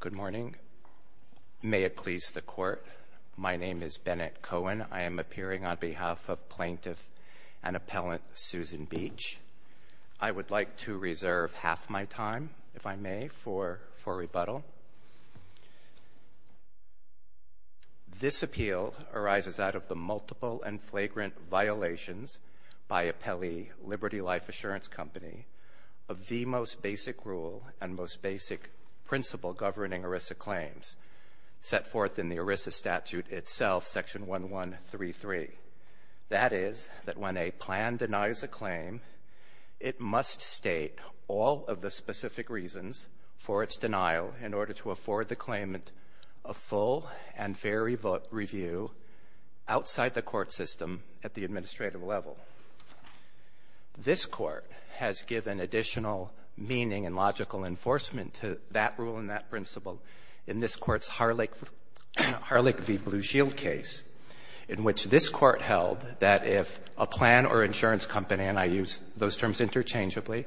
Good morning. May it please the Court, my name is Bennett Cohen. I am appearing on behalf of Plaintiff and Appellant Susan Beach. I would like to reserve half my time, if I may, for rebuttal. This appeal arises out of the multiple and flagrant violations by Appellee Liberty Life Assurance Co. of the most basic rule and most basic principle governing ERISA claims set forth in the ERISA statute itself, section 1133. That is, that when a plan denies a claim, it must state all of the specific reasons for its denial in order to afford the claimant a full and fair review outside the court system at the administrative level. This Court has given additional meaning and logical enforcement to that rule and that principle in this Court's Harlech v. Blue Shield case, in which this Court held that if a plan or insurance company, and I use those terms interchangeably,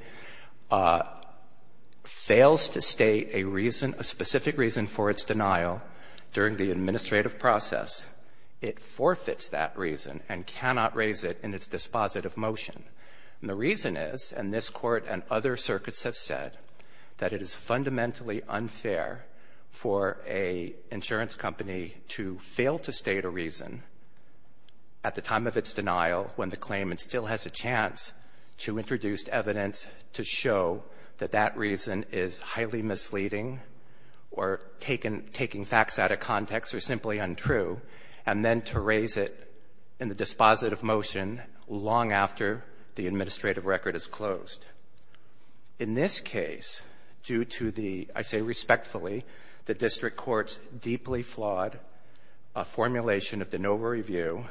fails to state a reason, a specific reason for its denial during the administrative process, it forfeits that reason and cannot raise it in its dispositive motion. And the reason is, and this Court and other circuits have said, that it is fundamentally unfair for an insurance company to fail to state a reason at the time of its denial when the claimant still has a chance to introduce evidence to show that that reason is highly misleading or taking facts out of context or simply untrue, and then to raise it in the dispositive motion long after In this case, due to the, I say respectfully, the District Court's deeply flawed formulation of the NOVA review,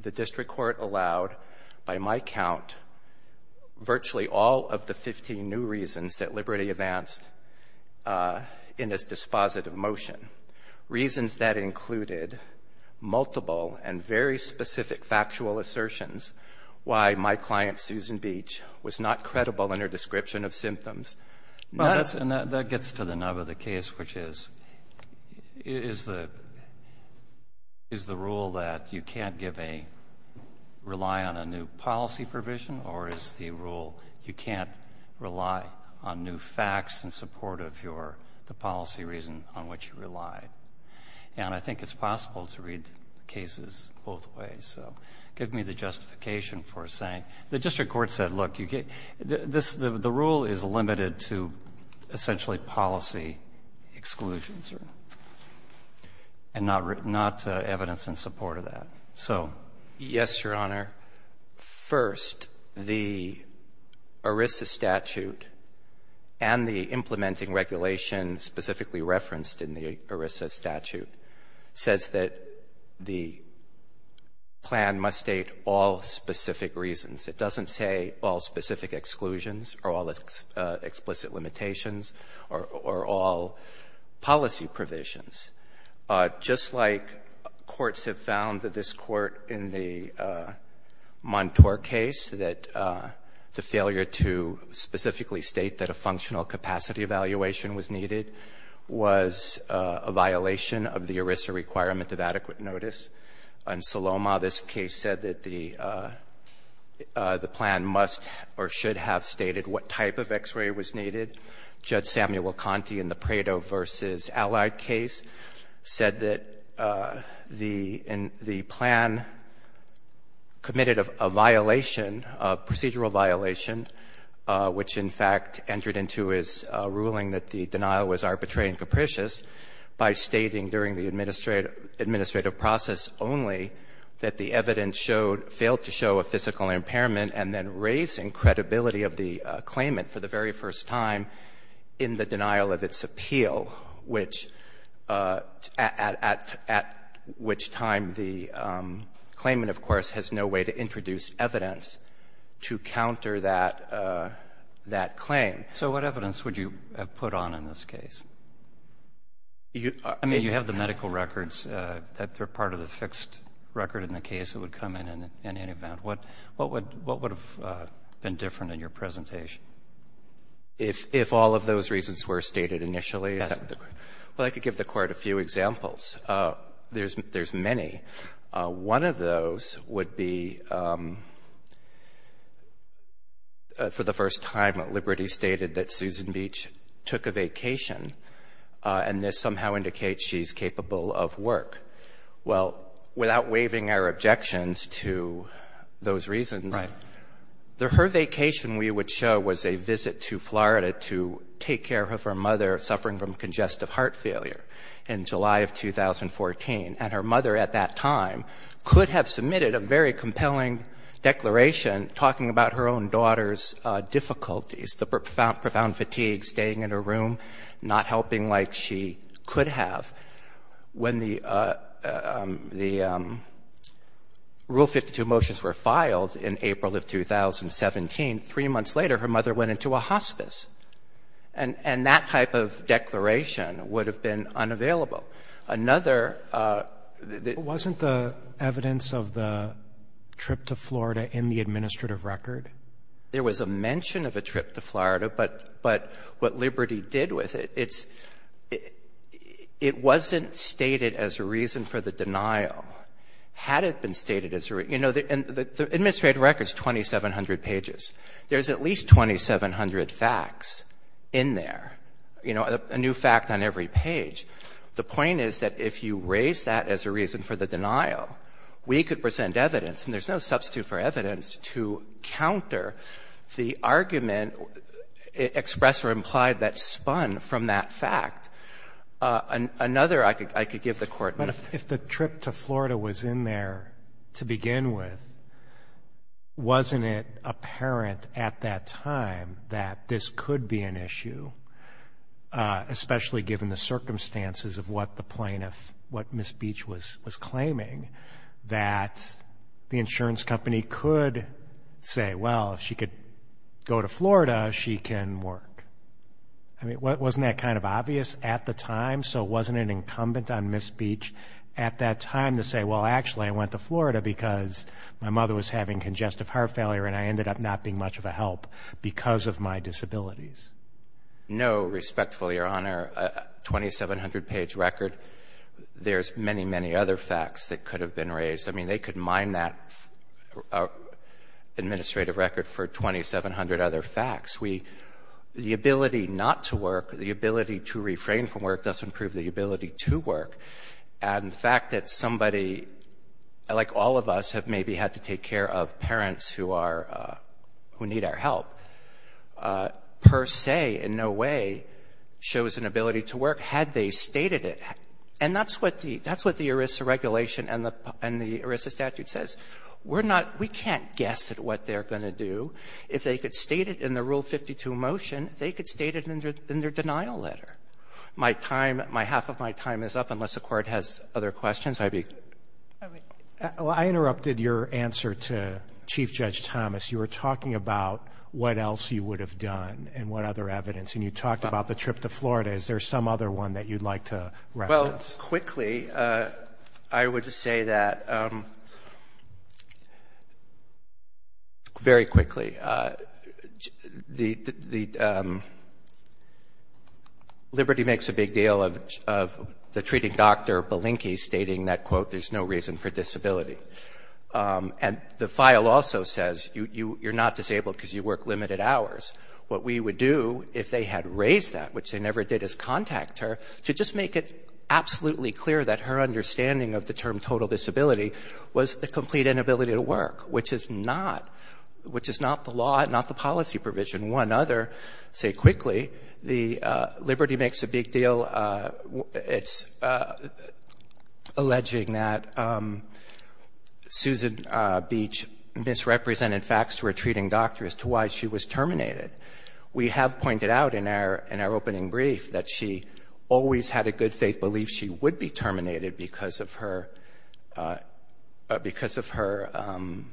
the District Court allowed, by my count, virtually all of the 15 new reasons that Liberty advanced in its dispositive motion. Reasons that included multiple and very specific factual assertions why my client, Susan Beach, was not credible in her description of symptoms. Well, that gets to the nub of the case, which is, is the rule that you can't give a, rely on a new policy provision? Or is the rule you can't rely on new facts in support of your, the policy reason on which you rely? And I think it's possible to read cases both ways, so give me the justification for saying, the District Court said, look, you get, this, the rule is limited to essentially policy exclusions and not written, not evidence in support of that. So yes, Your Honor. First, the ERISA statute and the implementing regulation specifically referenced in the ERISA statute says that the plan must state all specific reasons. It doesn't say all specific exclusions or all explicit limitations or all policy provisions. Just like courts have found that this court in the Montour case, that the failure to specifically state that a functional capacity evaluation was needed, was a violation of the ERISA requirement of adequate notice. In Saloma, this case said that the plan must or should have stated what type of X-ray was needed. Judge Samuel Conte in the Prado v. Allied case said that the plan committed a violation, a procedural violation, which in fact entered into his ruling that the denial was arbitrary and capricious, by stating during the administrative process only that the evidence showed, failed to show a physical impairment and then raising credibility of the claimant for the very first time in the denial of its appeal, which, at which time the claimant, of course, has no way to introduce evidence to counter that claim. So what evidence would you have put on in this case? I mean, you have the medical records. They're part of the fixed record in the case. It would come in in any event. What would have been different in your presentation? If all of those reasons were stated initially? Yes. Well, I could give the Court a few examples. There's many. One of those would be, for the first time, Liberty stated that Susan Beach took a vacation, and this somehow indicates she's capable of work. Well, without waiving our objections to those reasons, her vacation, we would show, was a visit to Florida to take care of her mother suffering from congestive heart failure in July of 2014, and her mother at that time could have submitted a very compelling declaration talking about her own daughter's difficulties, the profound fatigue, staying in her room, not helping like she could have. When the Rule 52 motions were filed in April of 2017, three months later, her mother went into a hospice, and that type of declaration would have been unavailable. Wasn't the evidence of the trip to Florida in the administrative record? There was a mention of a trip to Florida, but what Liberty did with it, it's — it wasn't stated as a reason for the denial. Had it been stated as a — you know, the administrative record's 2,700 pages. There's at least 2,700 facts in there, you know, a new fact on every page. The point is that if you raise that as a reason for the denial, we could present evidence, and there's no substitute for evidence to counter the argument expressed or implied that spun from that fact. Another I could give the Court. Roberts. But if the trip to Florida was in there to begin with, wasn't it apparent at that time that this could be an issue, especially given the circumstances of what the plaintiff, what Ms. Beach was claiming, that the insurance company could say, well, if she could go to Florida, she can work? I mean, wasn't that kind of obvious at the time, so it wasn't an incumbent on Ms. Beach at that time to say, well, actually, I went to Florida because my mother was having congestive heart failure and I ended up not being much of a help because of my disabilities? No, respectfully, Your Honor. A 2,700-page record, there's many, many other facts that could have been raised. I mean, they could mine that administrative record for 2,700 other facts. The ability not to work, the ability to refrain from work doesn't prove the ability to work. And the fact that somebody like all of us have maybe had to say in no way shows an ability to work had they stated it. And that's what the ERISA regulation and the ERISA statute says. We're not, we can't guess at what they're going to do. If they could state it in the Rule 52 motion, they could state it in their denial letter. My time, my half of my time is up, unless the Court has other questions. Roberts I interrupted your answer to Chief Judge Thomas. You were talking about what else you would have done and what other evidence. And you talked about the trip to Florida. Is there some other one that you'd like to reference? Well, quickly, I would say that, very quickly, Liberty makes a big deal of the treating doctor, Balinky, stating that, quote, there's no reason for disability. And the file also says you're not disabled because you work limited hours. What we would do, if they had raised that, which they never did, is contact her to just make it absolutely clear that her understanding of the term total disability was the complete inability to work, which is not, which is not the law, not the policy provision. One other, say quickly, the, Liberty makes a big deal, it's alleging that Susan Beach misrepresented facts to her that she always had a good faith belief she would be terminated because of her, because of her,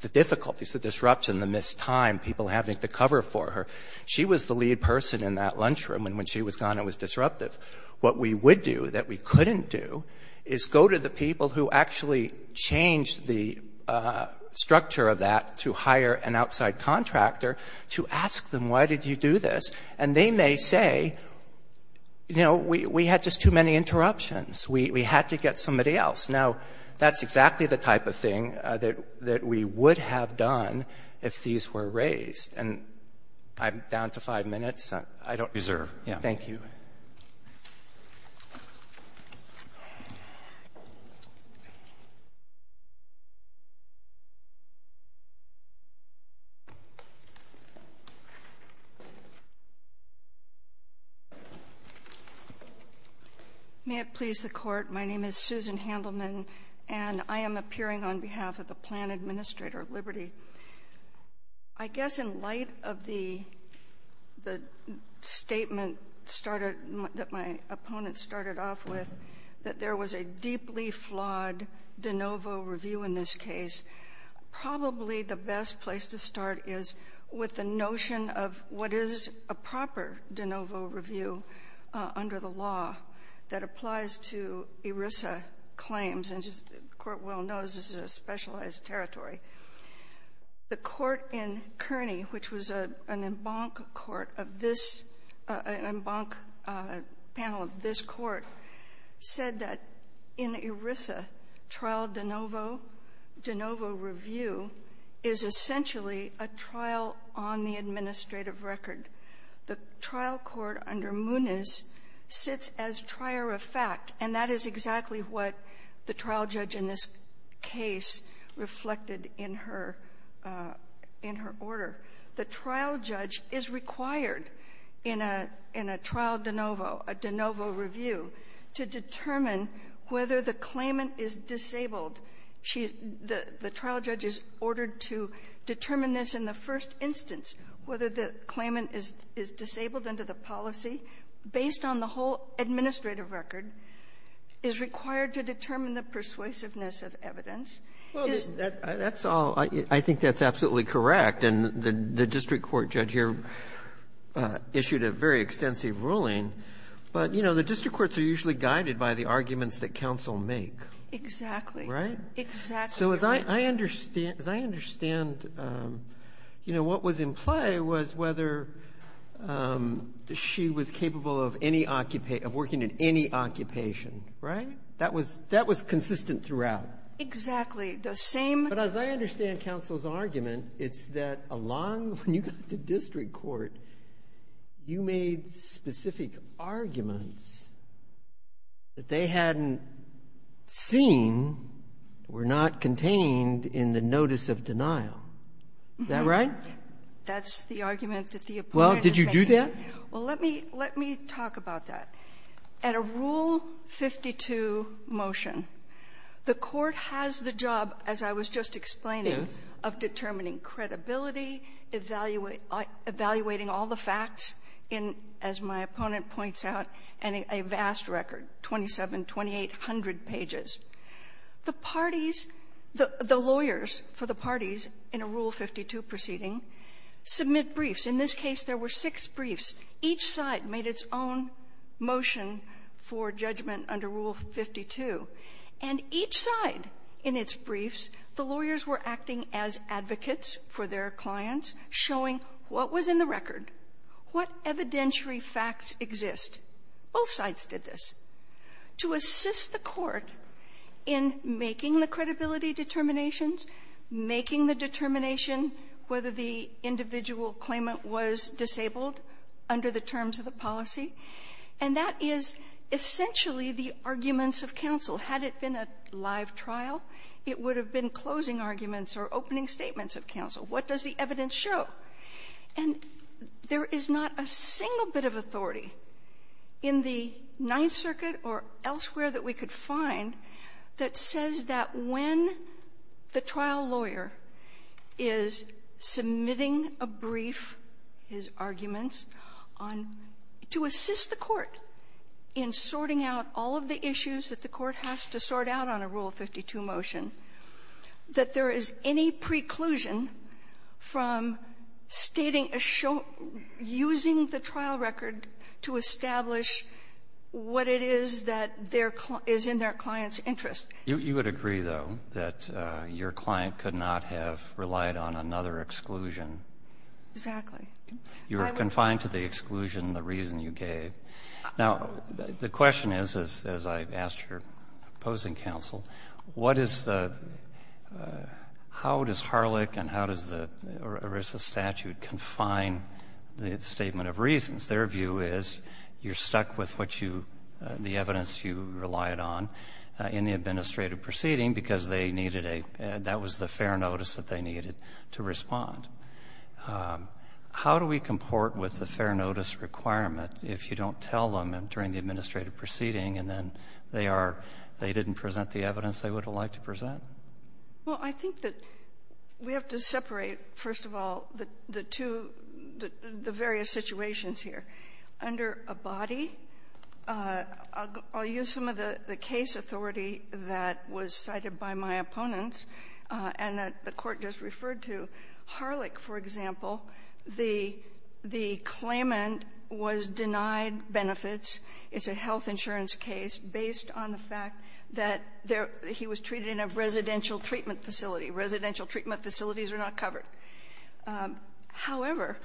the difficulties, the disruption, the missed time, people having to cover for her. She was the lead person in that lunchroom. And when she was gone, it was disruptive. What we would do that we couldn't do is go to the people who actually changed the structure of that to hire an outside contractor to ask them, why did you do this? And they may say, you know, we had just too many interruptions. We had to get somebody else. Now, that's exactly the type of thing that we would have done if these were raised. And I'm down to five minutes. I don't reserve. Thank you. May it please the Court. My name is Susan Handelman, and I am appearing on behalf of the Plan Administrator of Liberty. I guess in light of the statement started, that my opponent started off with, that there was a deeply flawed de novo review in this case, probably the best place to start is with the notion of what is a proper de novo review under the law that applies to ERISA claims. And the Court well knows this is a specialized territory. The court in Kearney, which was an embankment court of this, an embankment panel of this court, said that in ERISA, trial de novo, de novo review, is not a proper de novo review. It's not a proper de novo review. It's a trial on the administrative record. The trial court under Muniz sits as trier of fact, and that is exactly what the trial judge in this case reflected in her order. The trial judge is required in a trial de novo, a de novo review, to determine whether the claimant is ordered to determine this in the first instance, whether the claimant is disabled under the policy, based on the whole administrative record, is required to determine the persuasiveness of evidence. Well, that's all. I think that's absolutely correct. And the district court judge here issued a very extensive ruling. But, you know, the district courts are usually guided by the arguments that counsel make. Exactly. Right? Exactly. So as I understand, you know, what was in play was whether she was capable of working in any occupation, right? That was consistent throughout. Exactly. The same. But as I understand counsel's argument, it's that along, when you got to district court, you made specific arguments that they hadn't seen, were not contained in the notice of denial. Is that right? That's the argument that the opponent is making. Well, did you do that? Well, let me talk about that. At a Rule 52 motion, the court has the job, as I was just explaining, of determining credibility, evaluating all the facts, as my opponent points out, and a vast record, 2,700, 2,800 pages. The parties, the judge, the plaintiffs, the jury, the jury, the lawyers for the parties in a Rule 52 proceeding submit briefs. In this case, there were six briefs. Each side made its own motion for judgment under Rule 52. And each side in its briefs, the lawyers were acting as advocates for their clients, showing what was in the record, what evidentiary facts exist. Both sides did this. To assist the court in making the credibility determinations, making the determination whether the individual claimant was disabled under the terms of the policy, and that is essentially the arguments of counsel. Had it been a live trial, it would have been closing arguments or opening statements of counsel. What does the evidence show? And there is not a single bit of authority in the Ninth Circuit or elsewhere that we could find that says that when the trial lawyer is submitting a brief, his arguments on to assist the court in sorting out all of the issues that the court has to sort out on a Rule 52 motion, that there is any preclusion from the court stating, using the trial record to establish what it is that is in their client's interest. You would agree, though, that your client could not have relied on another exclusion? Exactly. You were confined to the exclusion, the reason you gave. Now, the question is, as I've said, if you're opposing counsel, how does Harlech and how does the ERISA statute confine the statement of reasons? Their view is you're stuck with the evidence you relied on in the administrative proceeding because that was the fair notice that they needed to respond. How do we comport with the fair notice requirement if you don't tell them during the administrative proceeding and then they are — they didn't present the evidence they would have liked to present? Well, I think that we have to separate, first of all, the two — the various situations here. Under a body, I'll use some of the case authority that was cited by my opponents and that the Court just referred to, Harlech, for example, the claimant was denied benefits. It's a health insurance case based on the fact that he was treated in a residential treatment facility. Residential treatment facilities are not covered. However,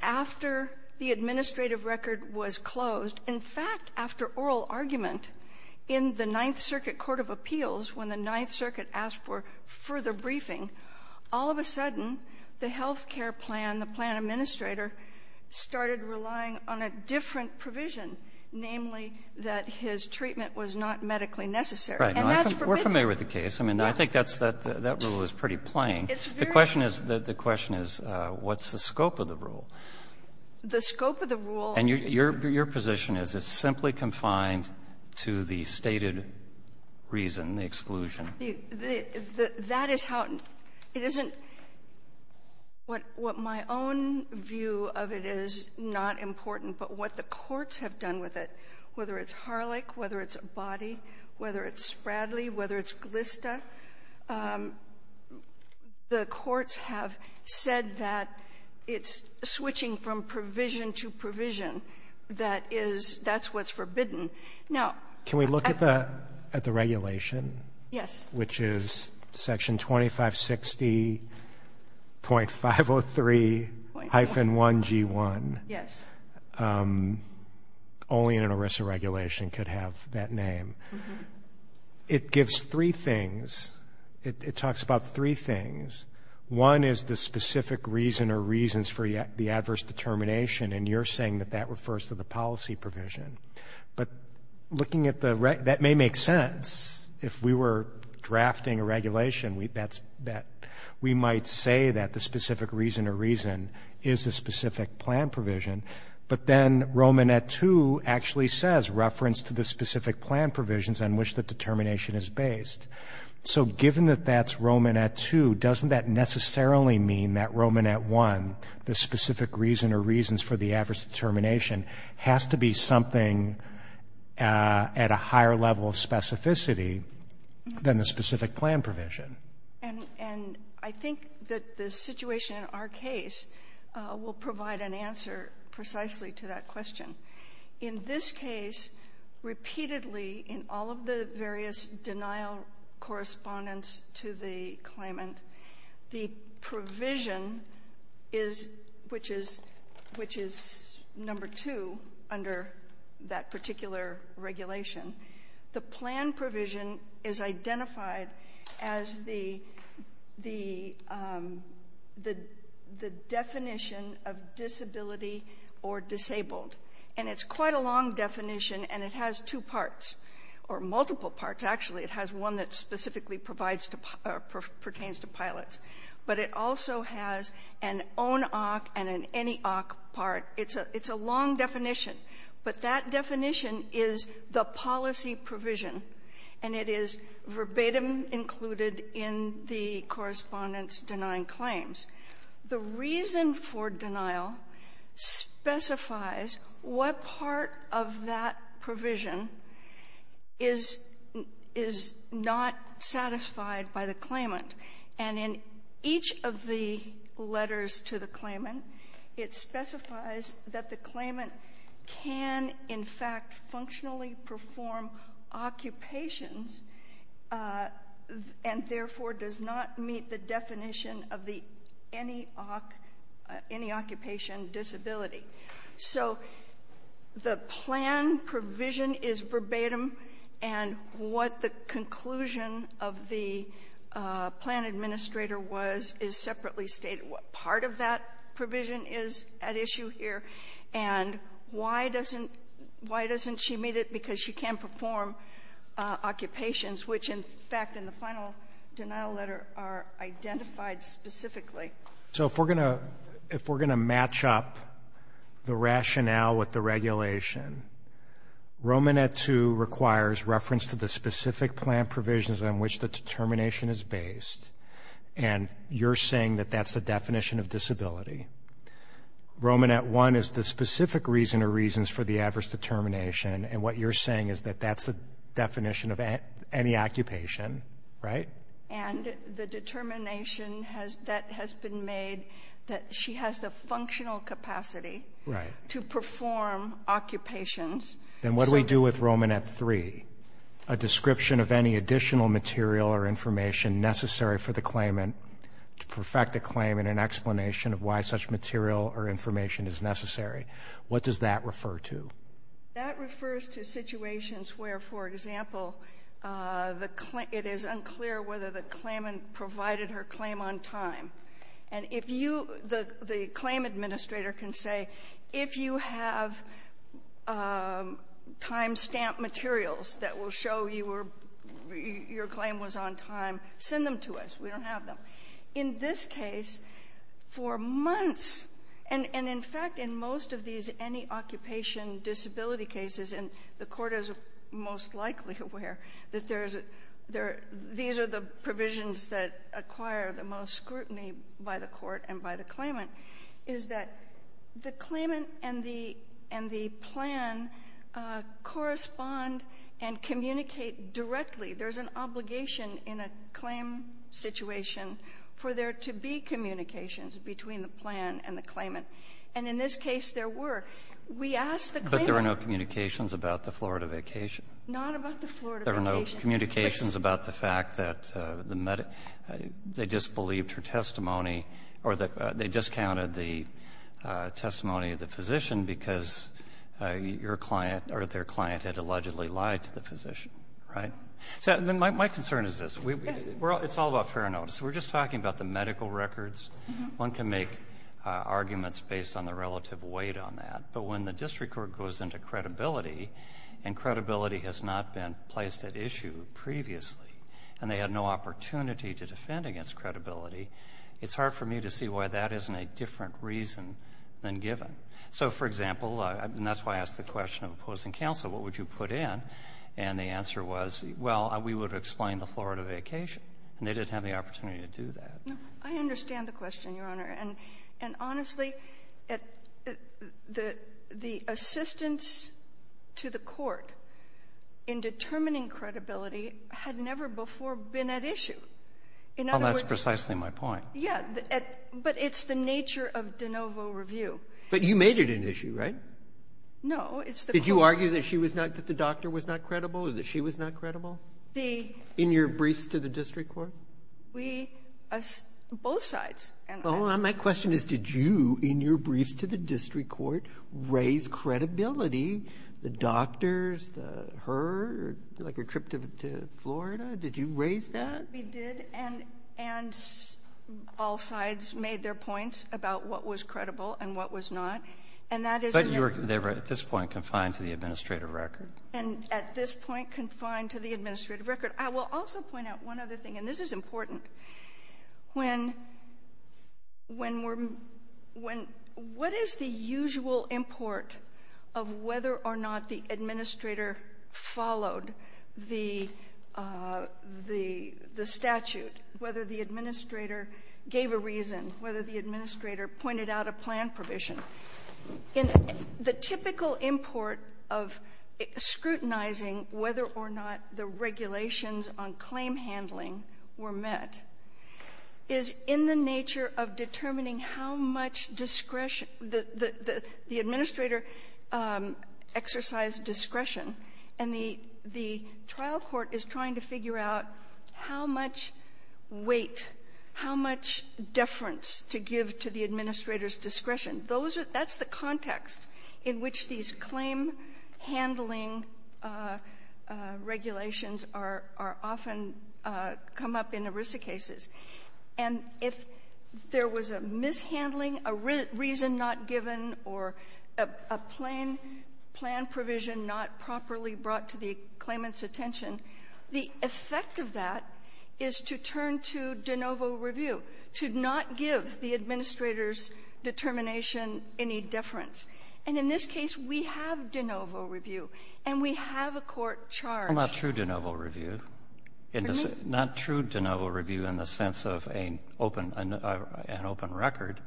after the administrative record was closed, in fact, after oral argument, in the Ninth Circuit Court of Appeals, when the Ninth Circuit asked for further briefing, all of a sudden the health care plan, the plan administrator, started relying on a different provision, namely that his treatment was not medically necessary. And that's permitted. Right. We're familiar with the case. I mean, I think that's — that rule is pretty plain. It's very — The question is — the question is what's the scope of the rule? The scope of the rule — And your position is it's simply confined to the stated reason, the exclusion. That is how — it isn't — what my own view of it is not important, but what the courts have done with it, whether it's Harlech, whether it's a body, whether it's a person, that is — that's what's forbidden. Now — Can we look at the regulation? Yes. Which is Section 2560.503-1G1. Yes. Only an ERISA regulation could have that name. It gives three things. It talks about three things. One is the specific reason or reasons for the adverse determination, and you're saying that that refers to the policy provision. But looking at the — that may make sense. If we were drafting a regulation, we might say that the specific reason or reason is a specific plan provision. But then Romanet 2 actually says reference to the specific plan provisions on which the determination is based. So given that that's Romanet 2, doesn't that specific reason or reasons for the adverse determination has to be something at a higher level of specificity than the specific plan provision? And I think that the situation in our case will provide an answer precisely to that question. In this case, repeatedly, in all of the various denial correspondence to the claimant, the provision is — which is number two under that particular regulation — the plan provision is identified as the definition of disability or disabled. And it's quite a long definition, and it has two parts or multiple parts. Actually, it has one that specifically provides — pertains to pilots. But it also has an own-oc and an any-oc part. It's a long definition. But that definition is the policy provision, and it is verbatim included in the correspondence denying claims. The reason for denial specifies what part of that is not satisfied by the claimant. And in each of the letters to the claimant, it specifies that the claimant can, in fact, functionally perform occupations and therefore does not meet the definition of the any-oc — any-occupation disability. So the plan provision is verbatim, and what the conclusion of the plan administrator was is separately stated. What part of that provision is at issue here, and why doesn't — why doesn't she meet it? Because she can't perform occupations, which, in fact, in the final denial letter are identified specifically. So if we're going to — if we're going to match up the rationale with the regulation, Romanet 2 requires reference to the specific plan provisions on which the determination is based, and you're saying that that's the definition of disability. Romanet 1 is the specific reason or reasons for the adverse determination, and what you're saying is that that's the definition of any occupation, right? And the determination has — that has been made that she has the functional capacity to perform occupations. Then what do we do with Romanet 3? A description of any additional material or information necessary for the claimant to perfect a claim and an explanation of why such material or information is necessary. What does that refer to? That refers to situations where, for example, the — it is unclear whether the claimant provided her claim on time. And if you — the claim administrator can say, if you have time stamp materials that will show you were — your claim was on time, send them to us. We don't have them. In this case, for months — and in fact, in most of these any-occupation disability cases, and the court is most likely aware that there is a — these are the provisions that acquire the most scrutiny by the court and by the claimant — is that the claimant and the — and the plan correspond and communicate directly. There is an obligation in a claim situation for there to be communications between the plan and the claimant. And in this case, there were. We asked the claimant — But there were no communications about the Florida vacation. Not about the Florida vacation. There were no communications about the fact that the — they disbelieved her testimony or that they discounted the testimony of the physician because your client or their client had allegedly lied to the physician. Right? So my concern is this. It's all about fair notice. We're just talking about the medical records. One can make arguments based on the relative weight on that. But when the district court goes into credibility, and credibility has not been placed at issue previously, and they had no opportunity to defend against credibility, it's hard for me to see why that isn't a different reason than given. So, for example, and that's why I asked the question of opposing counsel, what would you put in? And the answer was, well, we would explain the Florida vacation. And they didn't have the opportunity to do that. No, I understand the question, Your Honor. And honestly, the assistance to the court in determining credibility had never before been at issue. In other words — Well, that's precisely my point. Yeah, but it's the nature of de novo review. But you made it an issue, right? No, it's the court — Did you argue that she was not — that the doctor was not credible or that she was not credible? The — In your briefs to the district court? We — both sides. Well, my question is, did you, in your briefs to the district court, raise credibility? The doctors, her, like her trip to Florida, did you raise that? We did, and all sides made their points about what was credible and what was not. And that is — But you were, at this point, confined to the administrative record. And at this point, confined to the administrative record. I will also point out one other thing, and this is important. When we're — what is the usual import of whether or not the administrator followed the statute, whether the administrator gave a reason, whether the administrator pointed out a plan provision. And the typical import of scrutinizing whether or not the regulations on claim handling were met is in the nature of determining how much discretion — the administrator exercised discretion. And the trial court is trying to figure out how much weight, how much deference to give to the administrator's discretion. Those are — that's the context in which these claim handling regulations are often come up in ERISA cases. And if there was a mishandling, a reason not given, or a plan provision not properly brought to the claimant's attention, the effect of that is to turn to de novo review, to not give the administrator's determination any deference. And in this case, we have de novo review, and we have a court charge — Well, not true de novo review. Excuse me? It's not true de novo review in the sense of an open record.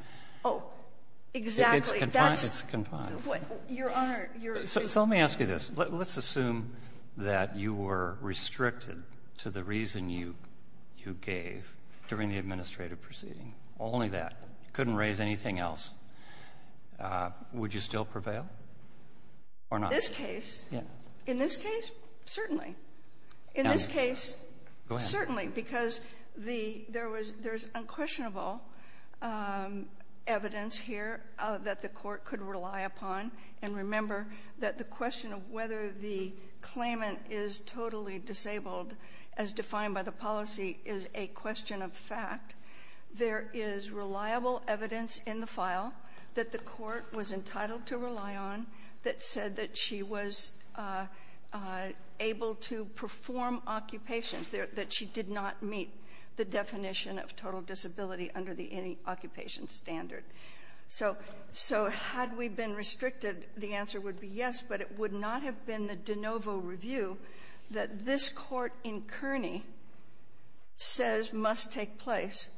Oh, exactly. It's confined. Your Honor — So let me ask you this. Let's assume that you were restricted to the reason you gave during the administrative proceeding, only that. Couldn't raise anything else. Would you still prevail or not? This case? Yeah. In this case, certainly. In this case — Go ahead. Certainly, because there's unquestionable evidence here that the court could rely upon. And remember that the question of whether the claimant is totally disabled, as defined by the policy, is a question of fact. There is reliable evidence in the file that the court was entitled to rely on that said that she was able to perform occupations, that she did not meet the definition of total disability under the any occupation standard. So had we been restricted, the answer would be yes, but it would not have been the de novo review that this court in Kearney says must take place,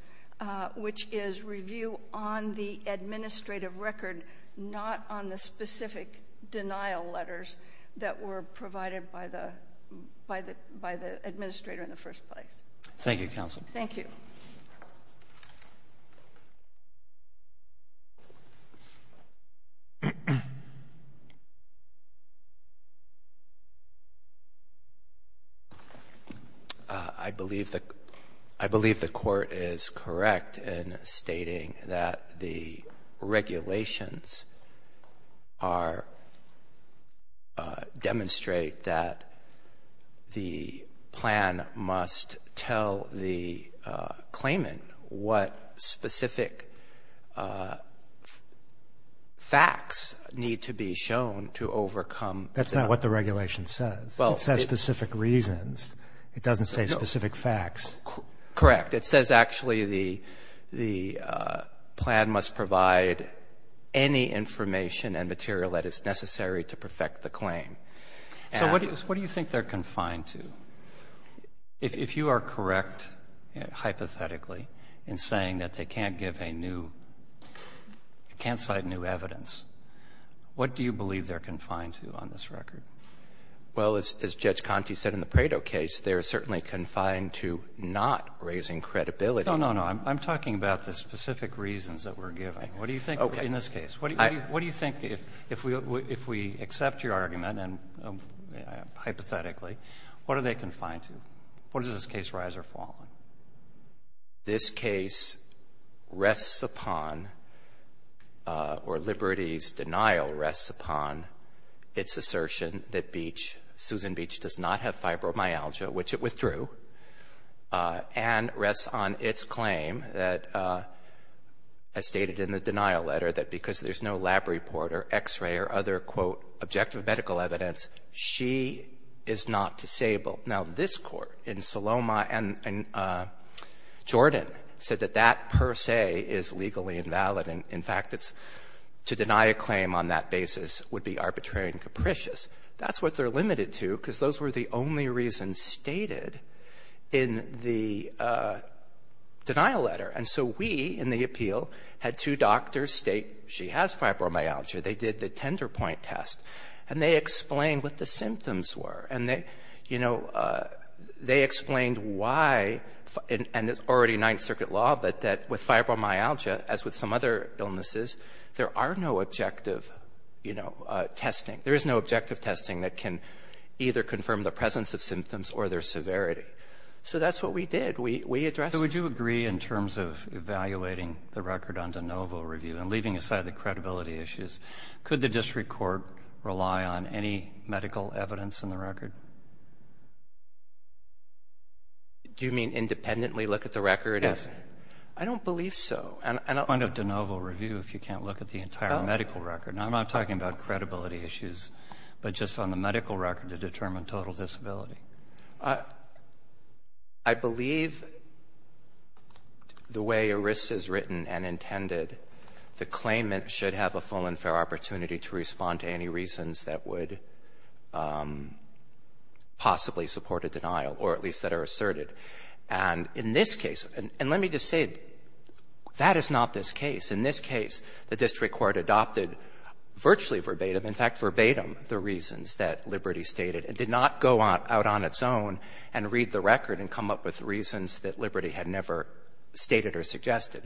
which is review on the administrative record, not on the specific denial letters that were provided by the administrator in the first place. Thank you, counsel. Thank you. I believe the court is correct in stating that the regulations are — demonstrate that the plan must tell the claimant what specific facts need to be shown to overcome — That's not what the regulation says. It says specific reasons. It doesn't say specific facts. Correct. It says actually the plan must provide any information and material that is necessary to perfect the claim. So what do you think they're confined to? If you are correct, hypothetically, in saying that they can't give a new — can't cite new evidence, what do you believe they're confined to on this record? Well, as Judge Conte said in the Prado case, they're certainly confined to not raising credibility. No, no, no. I'm talking about the specific reasons that we're giving. Okay. What do you think in this case? What do you think if we accept your argument and hypothetically, what are they confined to? What does this case rise or fall on? This case rests upon — or Liberty's denial rests upon its assertion that Beach, Susan Beach, does not have fibromyalgia, which it withdrew, and rests on its claim that, as stated in the denial letter, that because there's no lab report or X-ray or other, quote, objective medical evidence, she is not disabled. Now, this Court in Saloma and Jordan said that that per se is legally invalid. In fact, it's — to deny a claim on that basis would be arbitrary and capricious. That's what they're limited to because those were the only reasons stated in the denial letter. And so we, in the appeal, had two doctors state she has fibromyalgia. They did the tender point test. And they explained what the symptoms were. And they, you know, they explained why — and it's already Ninth Circuit law, but that with fibromyalgia, as with some other illnesses, there are no objective, you know, testing. There is no objective testing that can either confirm the presence of symptoms or their severity. So that's what we did. We addressed it. So would you agree in terms of evaluating the record on de novo review and leaving aside the credibility issues, could the district court rely on any medical evidence in the record? Do you mean independently look at the record? Yes. I don't believe so. Point of de novo review if you can't look at the entire medical record. I'm not talking about credibility issues, but just on the medical record to determine total disability. I believe the way ERISA's written and intended, the claimant should have a full and fair opportunity to respond to any reasons that would possibly support a denial, or at least that are asserted. And in this case — and let me just say, that is not this case. In this case, the district court adopted virtually verbatim, in fact, verbatim the reasons that Liberty stated and did not go out on its own and read the record and come up with reasons that Liberty had never stated or suggested.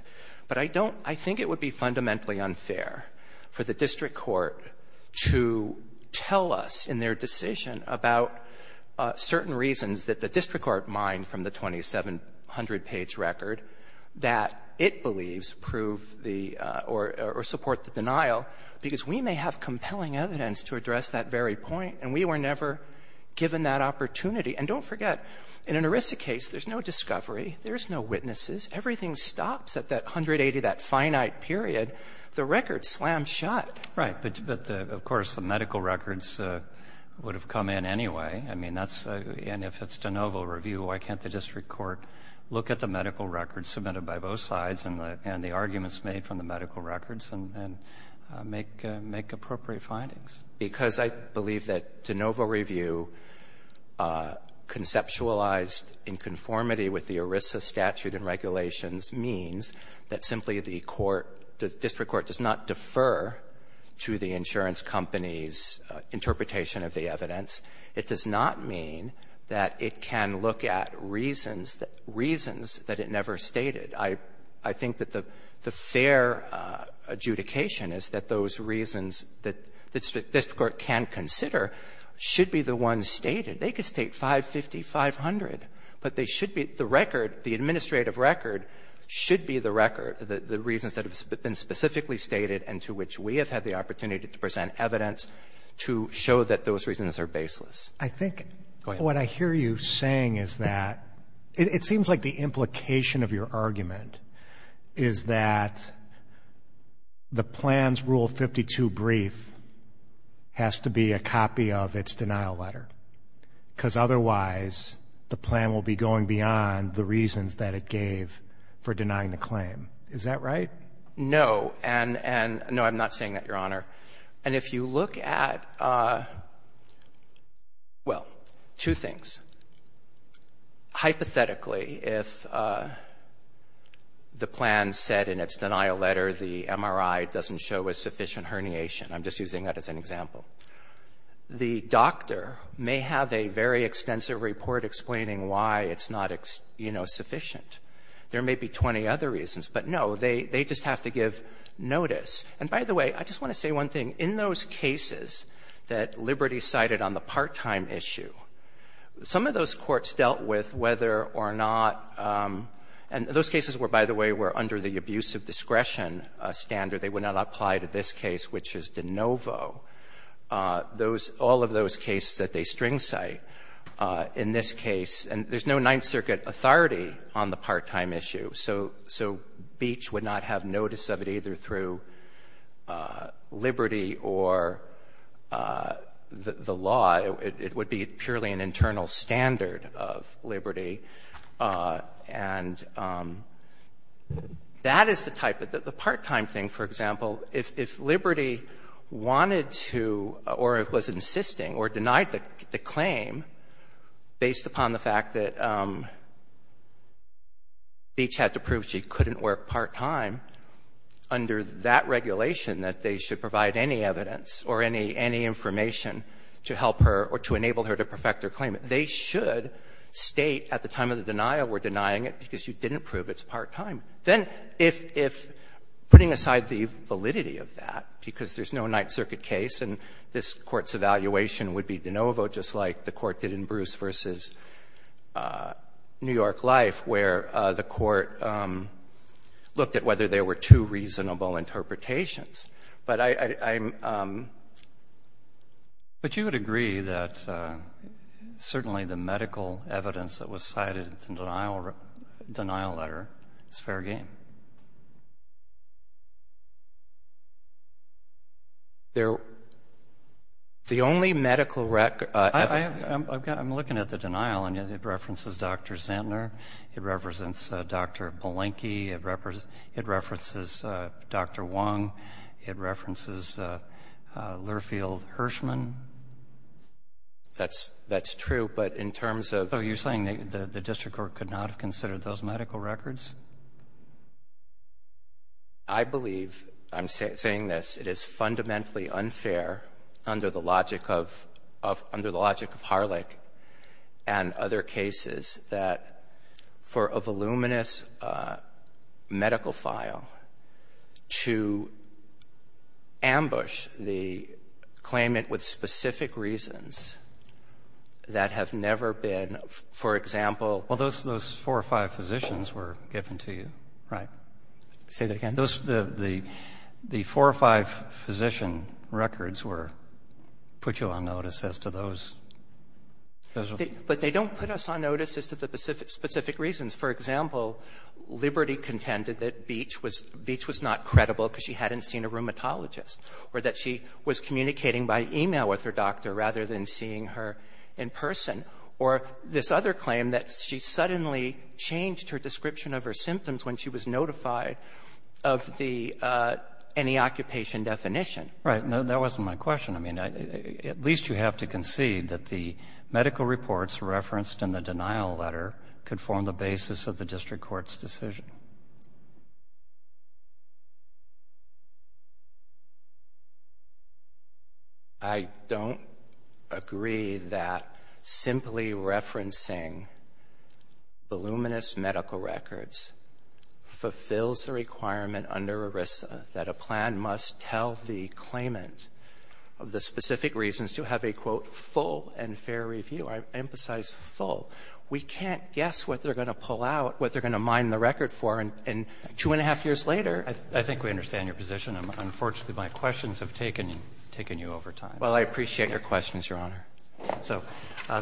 But I don't — I think it would be fundamentally unfair for the district court to tell us in their decision about certain reasons that the district court mined from the 2,700-page record that it believes prove the — or support the denial, because we may have compelling evidence to address that very point, and we were never given that opportunity. And don't forget, in an ERISA case, there's no discovery. There's no witnesses. Everything stops at that 180, that finite period. The record slams shut. Right. But, of course, the medical records would have come in anyway. I mean, that's — and if it's de novo review, why can't the district court look at the medical records submitted by both sides and the arguments made from the medical records and make appropriate findings? Because I believe that de novo review conceptualized in conformity with the ERISA statute and regulations means that simply the court, the district court does not defer to the insurance company's interpretation of the evidence. It does not mean that it can look at reasons that it never stated. I think that the fair adjudication is that those reasons that the district court can consider should be the ones stated. They could state 550, 500, but they should be — the record, the administrative record should be the record, the reasons that have been specifically stated and to which we have had the opportunity to present evidence to show that those reasons are baseless. Go ahead. What I hear you saying is that — it seems like the implication of your argument is that the plan's Rule 52 brief has to be a copy of its denial letter because otherwise the plan will be going beyond the reasons that it gave for denying the claim. Is that right? No. And — no, I'm not saying that, Your Honor. And if you look at — well, two things. Hypothetically, if the plan said in its denial letter the MRI doesn't show a sufficient herniation, I'm just using that as an example, the doctor may have a very extensive report explaining why it's not, you know, sufficient. There may be 20 other reasons, but no, they just have to give notice. And by the way, I just want to say one thing. In those cases that Liberty cited on the part-time issue, some of those courts dealt with whether or not — and those cases were, by the way, were under the abuse of discretion standard. They would not apply to this case, which is De Novo. Those — all of those cases that they string cite in this case — and there's no Ninth Circuit authority on the part-time issue, so Beach would not have notice of it either through Liberty or the law. It would be purely an internal standard of Liberty. And that is the type of — the part-time thing, for example, if Liberty wanted to or was insisting or denied the claim based upon the fact that Beach had to prove that she couldn't work part-time under that regulation, that they should provide any evidence or any information to help her or to enable her to perfect her claim. They should state at the time of the denial we're denying it because you didn't prove it's part-time. Then if — putting aside the validity of that, because there's no Ninth Circuit case and this Court's evaluation would be De Novo, just like the Court did in Bruce v. New York Life, where the Court looked at whether there were two reasonable interpretations. But I'm — But you would agree that certainly the medical evidence that was cited in the denial letter is fair game? There — the only medical — I'm looking at the denial and it references Dr. Zantler. It represents Dr. Polenki. It references Dr. Wong. It references Lurfield Hirschman. That's true. But in terms of — So you're saying the district court could not have considered those medical records? I believe, I'm saying this, it is fundamentally unfair under the logic of — under the logic of Harlech and other cases that for a voluminous medical file to ambush the claimant with specific reasons that have never been — for example — Well, those four or five physicians were given to you. Right. Say that again? The four or five physician records were — put you on notice as to those? But they don't put us on notice as to the specific reasons. For example, Liberty contended that Beach was not credible because she hadn't seen a rheumatologist or that she was communicating by e-mail with her doctor rather than seeing her in person. Or this other claim that she suddenly changed her description of her symptoms when she was notified of the — any occupation definition. Right. That wasn't my question. I mean, at least you have to concede that the medical reports referenced in the denial letter could form the basis of the district court's decision. I don't agree that simply referencing voluminous medical records fulfills the requirement under ERISA that a plan must tell the claimant of the specific reasons to have a, quote, full and fair review. I emphasize full. We can't guess what they're going to pull out, what they're going to mine the record for. And two and a half years later — I think we understand your position. Unfortunately, my questions have taken you over time. Well, I appreciate your questions, Your Honor. So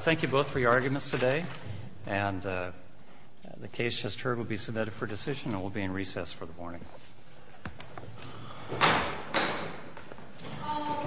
thank you both for your arguments today. And the case just heard will be submitted for decision and will be in recess for the morning. All rise.